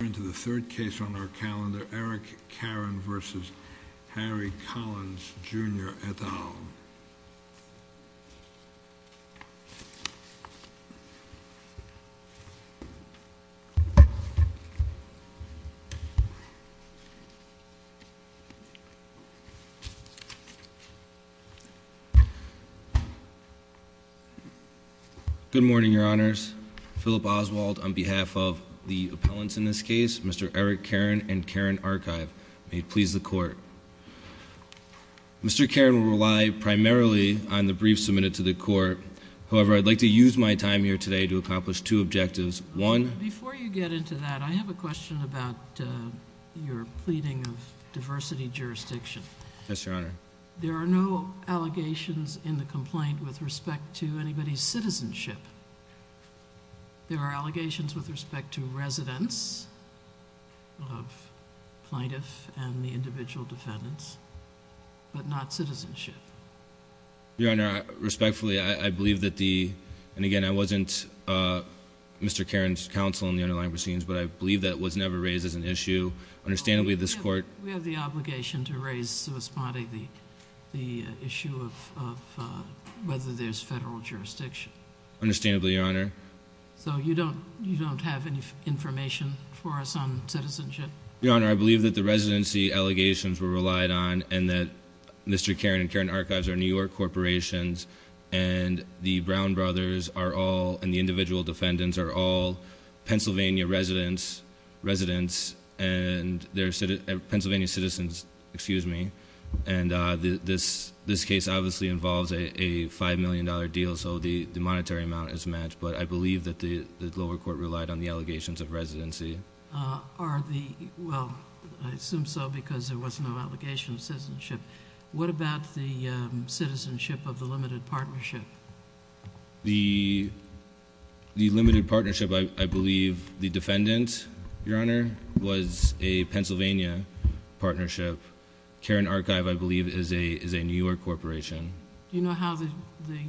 We're into the third case on our calendar, Eric Caren v. Harry Collins Jr. et al. Eric Caren v. Collins Jr. et al. Good morning, your honors. Philip Oswald on behalf of the appellants in this case, Mr. Eric Caren and Caren Archive, may it please the court. Mr. Caren will rely primarily on the brief submitted to the court. However, I'd like to use my time here today to accomplish two objectives. One— Before you get into that, I have a question about your pleading of diversity jurisdiction. Yes, your honor. There are no allegations in the complaint with respect to anybody's citizenship. There are allegations with respect to residents of plaintiff and the individual defendants, but not citizenship. Your honor, respectfully, I believe that the—and again, I wasn't Mr. Caren's counsel in the underlying proceedings, but I believe that was never raised as an issue. Understandably, this court— We have the obligation to raise, so respond to the issue of whether there's federal jurisdiction. Understandably, your honor. So you don't have any information for us on citizenship? Your honor, I believe that the residency allegations were relied on, and that Mr. Caren and Caren Archives are New York corporations, and the Brown brothers are all—and the individual defendants are all Pennsylvania residents, and they're Pennsylvania citizens, excuse me. And this case obviously involves a $5 million deal, so the monetary amount is matched, but I believe that the lower court relied on the allegations of residency. Are the—well, I assume so because there was no allegation of citizenship. What about the citizenship of the limited partnership? The limited partnership, I believe the defendant, your honor, was a Pennsylvania partnership. Caren Archive, I believe, is a New York corporation. Do you know how the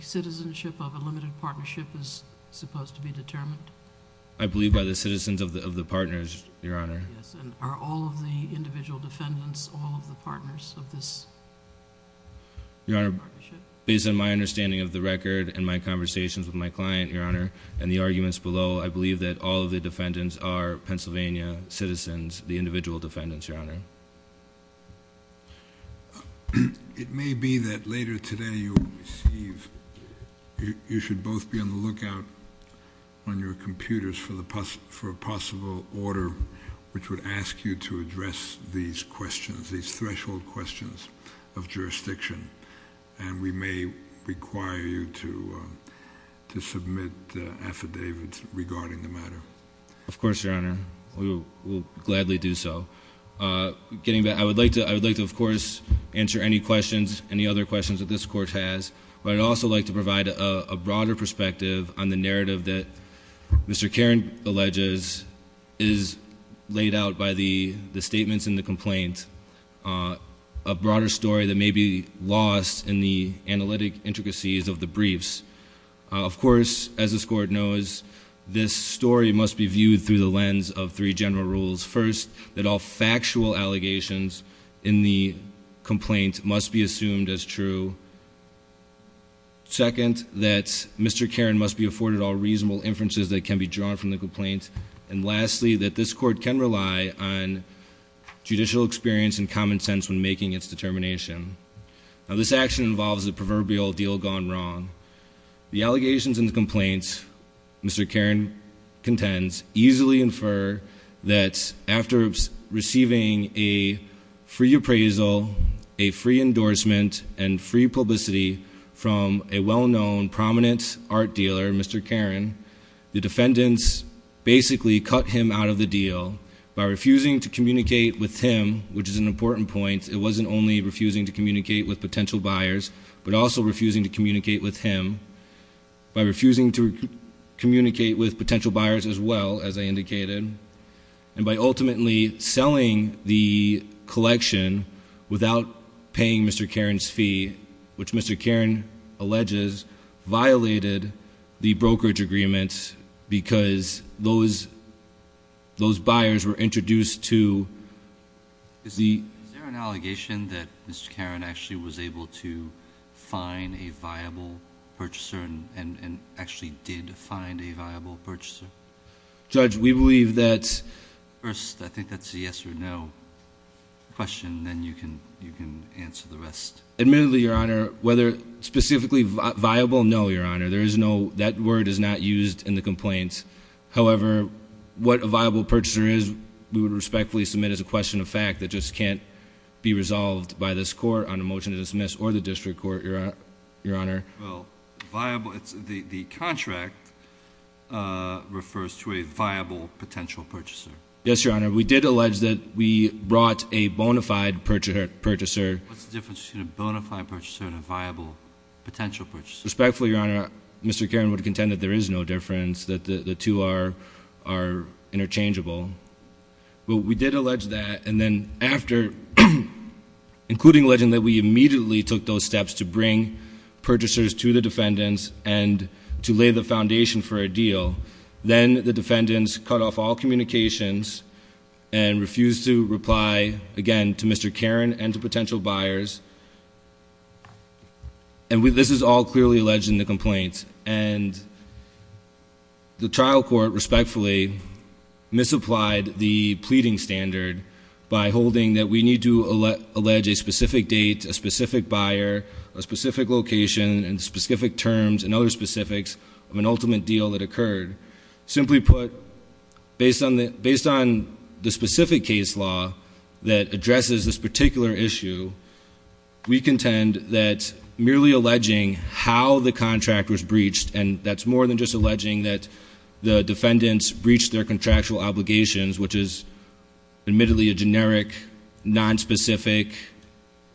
citizenship of a limited partnership is supposed to be determined? I believe by the citizens of the partners, your honor. Yes, and are all of the individual defendants all of the partners of this partnership? Your honor, based on my understanding of the record and my conversations with my client, your honor, and the arguments below, I believe that all of the defendants are Pennsylvania citizens, the individual defendants, your honor. It may be that later today you receive—you should both be on the lookout on your computers for a possible order which would ask you to address these questions, these threshold questions of jurisdiction, and we may require you to submit affidavits regarding the matter. Of course, your honor. We will gladly do so. I would like to, of course, answer any questions, any other questions that this court has, but I'd also like to provide a broader perspective on the narrative that Mr. Caren alleges is laid out by the statements and the complaints, a broader story that may be lost in the analytic intricacies of the briefs. Of course, as this court knows, this story must be viewed through the lens of three general rules. First, that all factual allegations in the complaint must be assumed as true. Second, that Mr. Caren must be afforded all reasonable inferences that can be drawn from the complaint. And lastly, that this court can rely on judicial experience and common sense when making its determination. Now, this action involves a proverbial deal gone wrong. The allegations and the complaints Mr. Caren contends easily infer that after receiving a free appraisal, a free endorsement, and free publicity from a well-known, prominent art dealer, Mr. Caren, the defendants basically cut him out of the deal by refusing to communicate with him, which is an important point. It wasn't only refusing to communicate with potential buyers, but also refusing to communicate with him, by refusing to communicate with potential buyers as well, as I indicated, and by ultimately selling the collection without paying Mr. Caren's fee, which Mr. Caren alleges violated the brokerage agreement, because those buyers were introduced to the- Is there an allegation that Mr. Caren actually was able to find a viable purchaser and actually did find a viable purchaser? Judge, we believe that- First, I think that's a yes or no question, then you can answer the rest. Admittedly, Your Honor, whether specifically viable, no, Your Honor. That word is not used in the complaints. However, what a viable purchaser is we would respectfully submit as a question of fact that just can't be resolved by this court on a motion to dismiss or the district court, Your Honor. Well, viable, the contract refers to a viable potential purchaser. Yes, Your Honor. We did allege that we brought a bona fide purchaser. What's the difference between a bona fide purchaser and a viable potential purchaser? Respectfully, Your Honor, Mr. Caren would contend that there is no difference, that the two are interchangeable. But we did allege that, and then after, including alleging that we immediately took those steps to bring purchasers to the defendants and to lay the foundation for a deal, then the defendants cut off all communications and refused to reply again to Mr. Caren and to potential buyers. And this is all clearly alleged in the complaints. And the trial court respectfully misapplied the pleading standard by holding that we need to allege a specific date, a specific buyer, a specific location, and specific terms and other specifics of an ultimate deal that occurred. Simply put, based on the specific case law that addresses this particular issue, we contend that merely alleging how the contract was breached, and that's more than just alleging that the defendants breached their contractual obligations, which is admittedly a generic, nonspecific,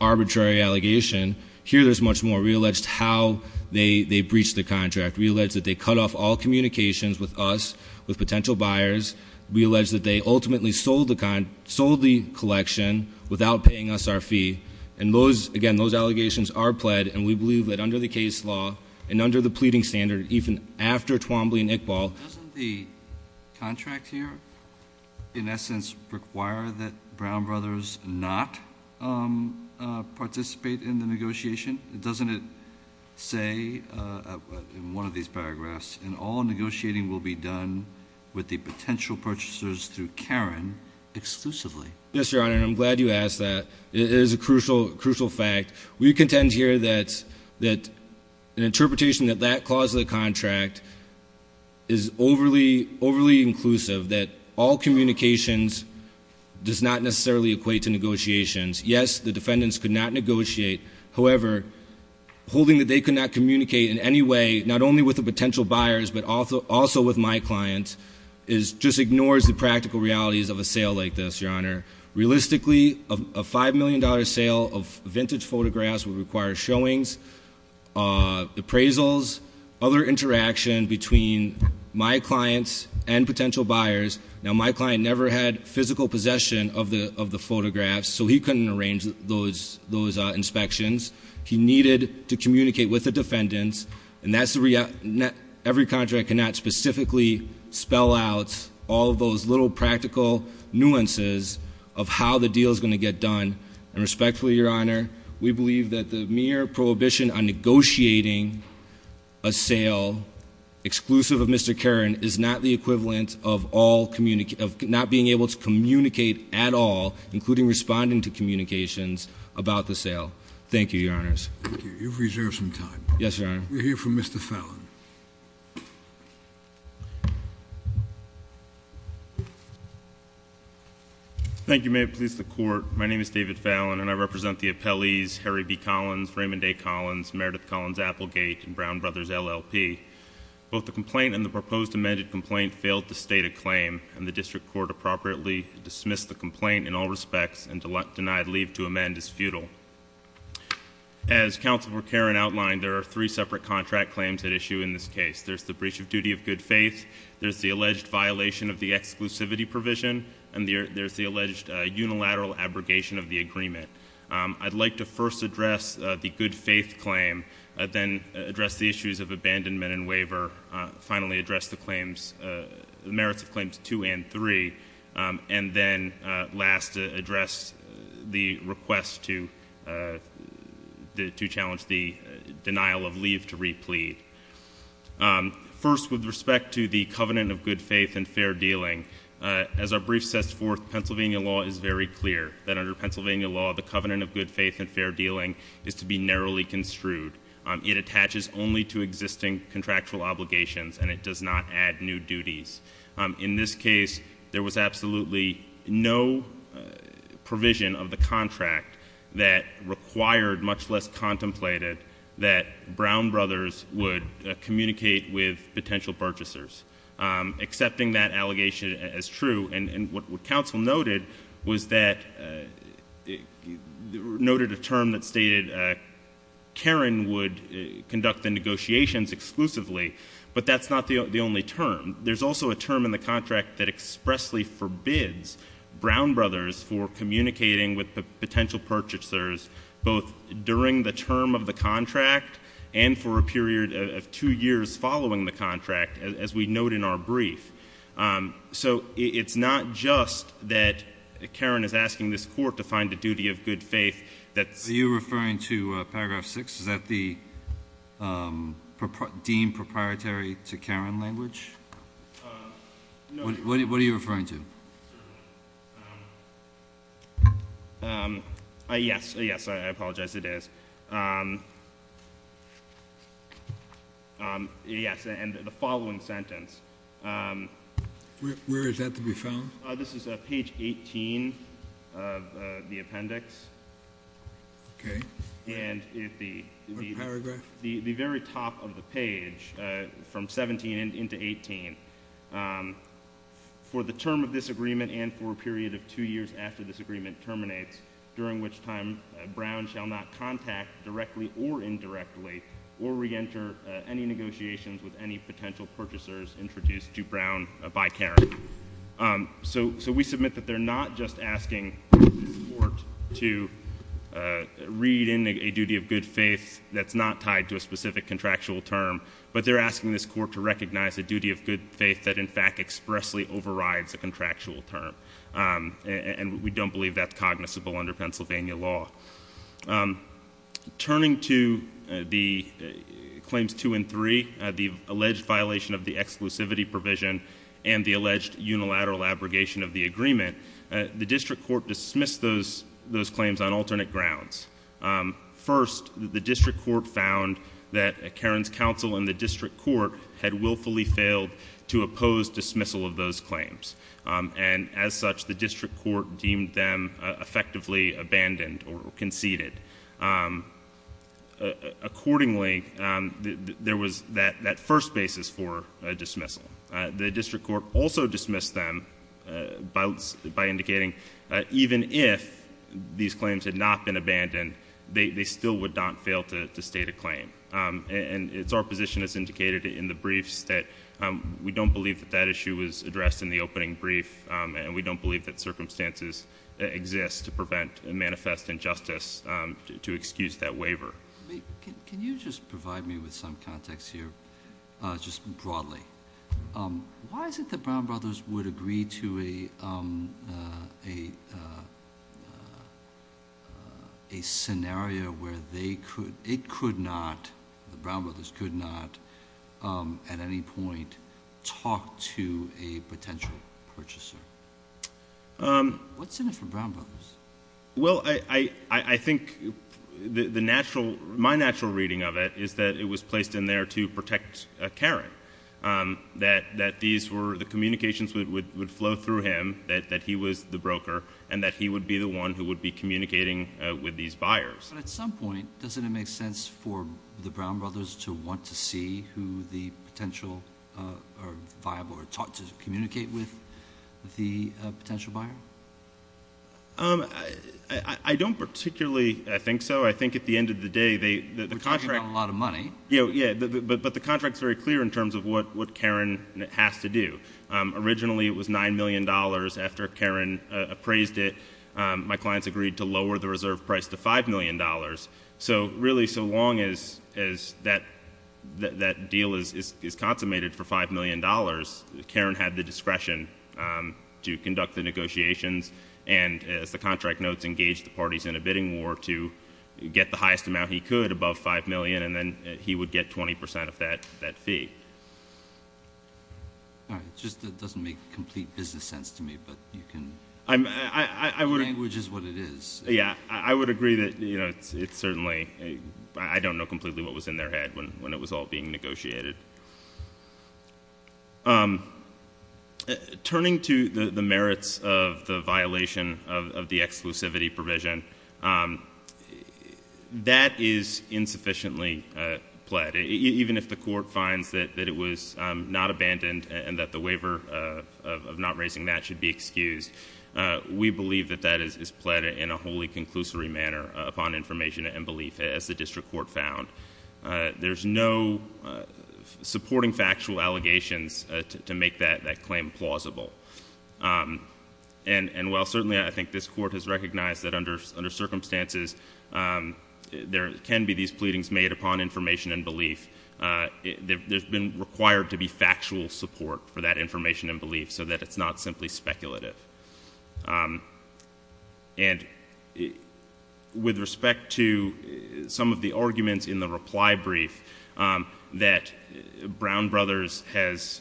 arbitrary allegation. Here there's much more. We allege how they breached the contract. We allege that they cut off all communications with us, with potential buyers. We allege that they ultimately sold the collection without paying us our fee. And, again, those allegations are pled, and we believe that under the case law and under the pleading standard, even after Twombly and Iqbal. Doesn't the contract here in essence require that Brown Brothers not participate in the negotiation? Doesn't it say in one of these paragraphs, and all negotiating will be done with the potential purchasers through Karen exclusively? Yes, Your Honor, and I'm glad you asked that. It is a crucial fact. We contend here that an interpretation that that clause of the contract is overly inclusive, that all communications does not necessarily equate to negotiations. Yes, the defendants could not negotiate. However, holding that they could not communicate in any way not only with the potential buyers but also with my clients just ignores the practical realities of a sale like this, Your Honor. Realistically, a $5 million sale of vintage photographs would require showings, appraisals, other interaction between my clients and potential buyers. Now, my client never had physical possession of the photographs, so he couldn't arrange those inspections. He needed to communicate with the defendants. Every contract cannot specifically spell out all of those little practical nuances of how the deal is going to get done. And respectfully, Your Honor, we believe that the mere prohibition on negotiating a sale exclusive of Mr. Karen is not the equivalent of not being able to communicate at all, including responding to communications about the sale. Thank you, Your Honors. Thank you. You've reserved some time. Yes, Your Honor. We'll hear from Mr. Fallon. Thank you. May it please the Court. My name is David Fallon, and I represent the appellees Harry B. Collins, Raymond A. Collins, Meredith Collins-Applegate, and Brown Brothers, LLP. Both the complaint and the proposed amended complaint failed to state a claim, and the District Court appropriately dismissed the complaint in all respects and denied leave to amend as futile. As Counselor Karen outlined, there are three separate contract claims at issue in this case. There's the breach of duty of good faith, there's the alleged violation of the exclusivity provision, and there's the alleged unilateral abrogation of the agreement. I'd like to first address the good faith claim, then address the issues of abandonment and waiver, finally address the merits of Claims 2 and 3, and then last, address the request to challenge the denial of leave to re-plead. First, with respect to the covenant of good faith and fair dealing, as our brief sets forth, Pennsylvania law is very clear that under Pennsylvania law, the covenant of good faith and fair dealing is to be narrowly construed. It attaches only to existing contractual obligations, and it does not add new duties. In this case, there was absolutely no provision of the contract that required, much less contemplated, that Brown Brothers would communicate with potential purchasers. Accepting that allegation as true, and what counsel noted was that, noted a term that stated Karen would conduct the negotiations exclusively, but that's not the only term. There's also a term in the contract that expressly forbids Brown Brothers for communicating with potential purchasers, both during the term of the contract and for a period of two years following the contract. As we note in our brief, so it's not just that Karen is asking this court to find a duty of good faith. Are you referring to Paragraph 6? Is that deemed proprietary to Karen language? No. What are you referring to? Yes, yes, I apologize, it is. Yes, and the following sentence. Where is that to be found? This is page 18 of the appendix. Okay. And the very top of the page, from 17 into 18, for the term of this agreement and for a period of two years after this agreement terminates, during which time Brown shall not contact, directly or indirectly, or re-enter any negotiations with any potential purchasers introduced to Brown by Karen. So we submit that they're not just asking this court to read in a duty of good faith that's not tied to a specific contractual term, but they're asking this court to recognize a duty of good faith that, in fact, expressly overrides a contractual term. And we don't believe that's cognizable under Pennsylvania law. Turning to Claims 2 and 3, the alleged violation of the exclusivity provision and the alleged unilateral abrogation of the agreement, the district court dismissed those claims on alternate grounds. First, the district court found that Karen's counsel in the district court had willfully failed to oppose dismissal of those claims. And as such, the district court deemed them effectively abandoned or conceded. Accordingly, there was that first basis for dismissal. The district court also dismissed them by indicating even if these claims had not been abandoned, they still would not fail to state a claim. And it's our position, as indicated in the briefs, that we don't believe that that issue was addressed in the opening brief, and we don't believe that circumstances exist to prevent a manifest injustice to excuse that waiver. Can you just provide me with some context here, just broadly? Why is it that Brown Brothers would agree to a scenario where it could not, the Brown Brothers could not, at any point, talk to a potential purchaser? What's in it for Brown Brothers? Well, I think the natural, my natural reading of it is that it was placed in there to protect Karen, that these were, the communications would flow through him, that he was the broker, and that he would be the one who would be communicating with these buyers. But at some point, doesn't it make sense for the Brown Brothers to want to see who the potential, or viable, or taught to communicate with the potential buyer? I don't particularly think so. I think at the end of the day, the contract... We're talking about a lot of money. Yeah, but the contract's very clear in terms of what Karen has to do. Originally, it was $9 million. After Karen appraised it, my clients agreed to lower the reserve price to $5 million. So, really, so long as that deal is consummated for $5 million, Karen had the discretion to conduct the negotiations, and as the contract notes, engage the parties in a bidding war to get the highest amount he could above $5 million, and then he would get 20 percent of that fee. All right. It just doesn't make complete business sense to me, but you can... I would... Language is what it is. Yeah, I would agree that it's certainly... I don't know completely what was in their head when it was all being negotiated. Turning to the merits of the violation of the exclusivity provision, that is insufficiently pled. Even if the court finds that it was not abandoned, and that the waiver of not raising that should be excused, we believe that that is pled in a wholly conclusory manner upon information and belief, as the district court found. There's no supporting factual allegations to make that claim plausible. And while certainly I think this court has recognized that under circumstances, there can be these pleadings made upon information and belief, there's been required to be factual support for that information and belief so that it's not simply speculative. And with respect to some of the arguments in the reply brief, that Brown Brothers has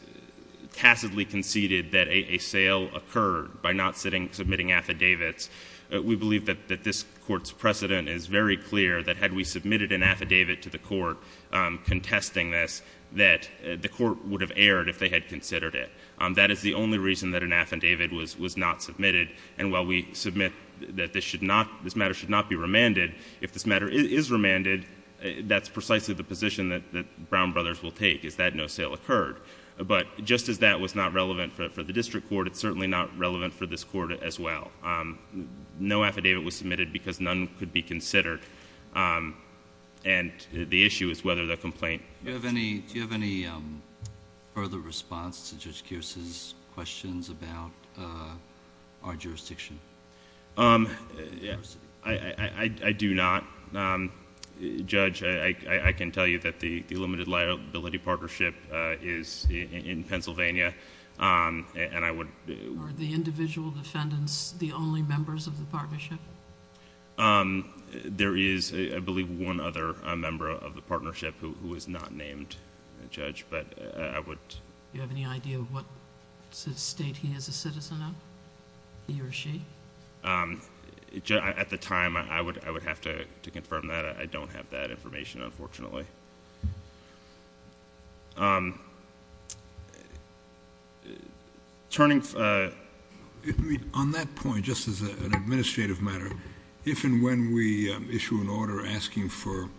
passively conceded that a sale occurred by not submitting affidavits, we believe that this court's precedent is very clear that had we submitted an affidavit to the court contesting this, that the court would have erred if they had considered it. That is the only reason that an affidavit was not submitted. And while we submit that this matter should not be remanded, if this matter is remanded, that's precisely the position that Brown Brothers will take, is that no sale occurred. But just as that was not relevant for the district court, it's certainly not relevant for this court as well. No affidavit was submitted because none could be considered. And the issue is whether the complaint- Do you have any further response to Judge Kearse's questions about our jurisdiction? I do not. Judge, I can tell you that the limited liability partnership is in Pennsylvania, and I would- Are the individual defendants the only members of the partnership? There is, I believe, one other member of the partnership who is not named, Judge, but I would- Do you have any idea of what state he is a citizen of, he or she? At the time, I would have to confirm that. I don't have that information, unfortunately. Turning- On that point, just as an administrative matter, if and when we issue an order asking for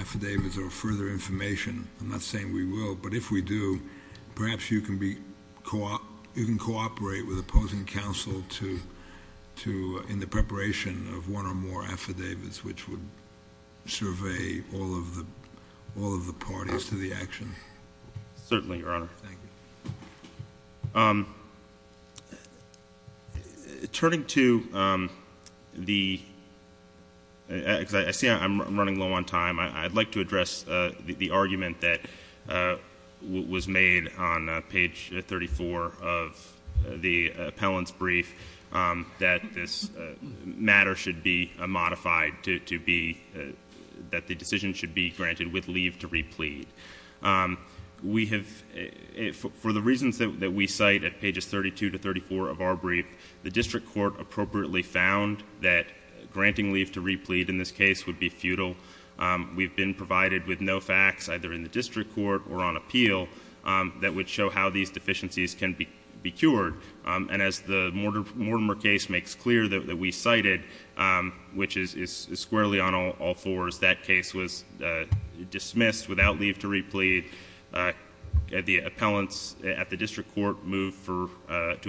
affidavits or further information, I'm not saying we will, but if we do, perhaps you can cooperate with opposing counsel in the preparation of one or more affidavits which would survey all of the parties to the action. Certainly, Your Honor. Thank you. Turning to the- I see I'm running low on time. I'd like to address the argument that was made on page 34 of the appellant's brief that this matter should be modified to be- that the decision should be granted with leave to replead. For the reasons that we cite at pages 32 to 34 of our brief, the district court appropriately found that granting leave to replead in this case would be futile. We've been provided with no facts, either in the district court or on appeal, that would show how these deficiencies can be cured. As the Mortimer case makes clear that we cited, which is squarely on all fours, that case was dismissed without leave to replead. The appellants at the district court moved to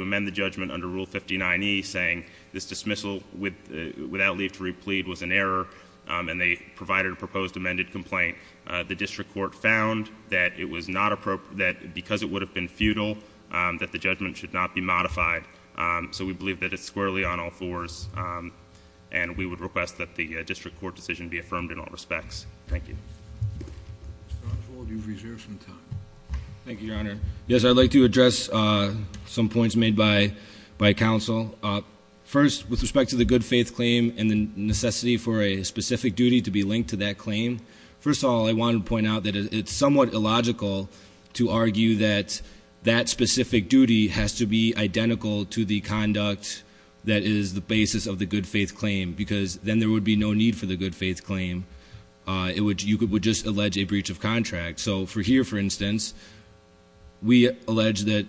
amend the judgment under Rule 59E, saying this dismissal without leave to replead was an error, and they provided a proposed amended complaint. The district court found that because it would have been futile, that the judgment should not be modified. So we believe that it's squarely on all fours, and we would request that the district court decision be affirmed in all respects. Thank you. Mr. Armstrong, you've reserved some time. Thank you, Your Honor. Yes, I'd like to address some points made by counsel. First, with respect to the good faith claim and the necessity for a specific duty to be linked to that claim, first of all, I wanted to point out that it's somewhat illogical to argue that that specific duty has to be identical to the conduct that is the basis of the good faith claim, because then there would be no need for the good faith claim. You would just allege a breach of contract. So here, for instance, we allege that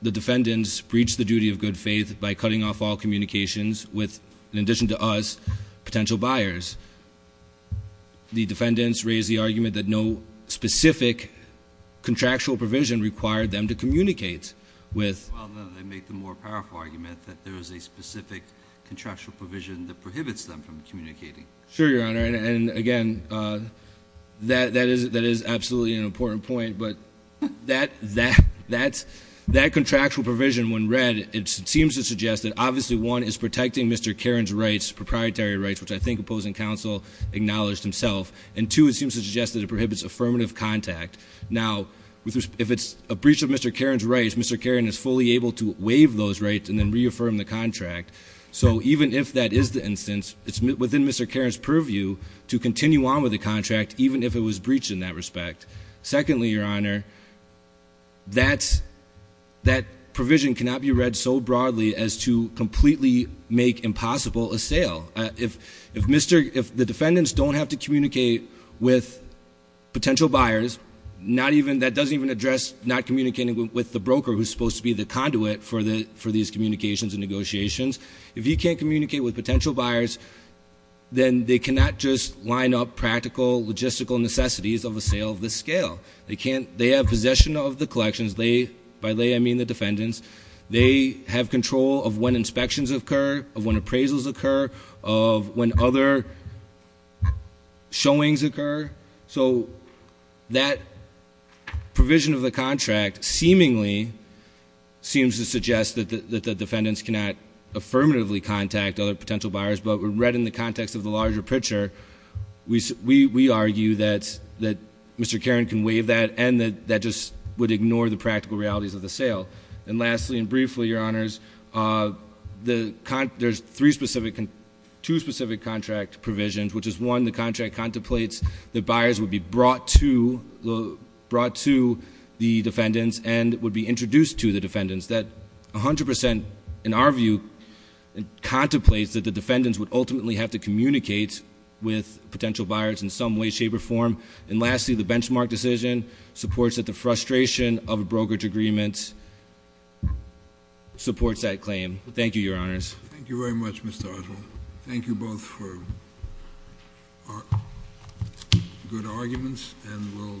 the defendants breached the duty of good faith by cutting off all communications with, in addition to us, potential buyers. The defendants raised the argument that no specific contractual provision required them to communicate with. Well, no. They make the more powerful argument that there is a specific contractual provision that prohibits them from communicating. Sure, Your Honor. And again, that is absolutely an important point. But that contractual provision, when read, it seems to suggest that, obviously, one, is protecting Mr. Caron's rights, proprietary rights, which I think opposing counsel acknowledged himself. And two, it seems to suggest that it prohibits affirmative contact. Now, if it's a breach of Mr. Caron's rights, Mr. Caron is fully able to waive those rights and then reaffirm the contract. So even if that is the instance, it's within Mr. Caron's purview to continue on with the contract, even if it was breached in that respect. Secondly, Your Honor, that provision cannot be read so broadly as to completely make impossible a sale. If the defendants don't have to communicate with potential buyers, that doesn't even address not communicating with the broker who's supposed to be the conduit for these communications and negotiations. If you can't communicate with potential buyers, then they cannot just line up practical, logistical necessities of a sale of this scale. They have possession of the collections, by they I mean the defendants. They have control of when inspections occur, of when appraisals occur, of when other showings occur. So that provision of the contract seemingly seems to suggest that the defendants cannot affirmatively contact other potential buyers. But read in the context of the larger picture, we argue that Mr. Caron can waive that, and that that just would ignore the practical realities of the sale. And lastly and briefly, Your Honors, there's two specific contract provisions, which is one, the contract contemplates that buyers would be brought to the defendants and would be introduced to the defendants, that 100% in our view contemplates that the defendants would ultimately have to communicate with potential buyers in some way, shape, or form. And lastly, the benchmark decision supports that the frustration of a brokerage agreement supports that claim. Thank you, Your Honors. Thank you very much, Mr. Othwell. Thank you both for good arguments, and we'll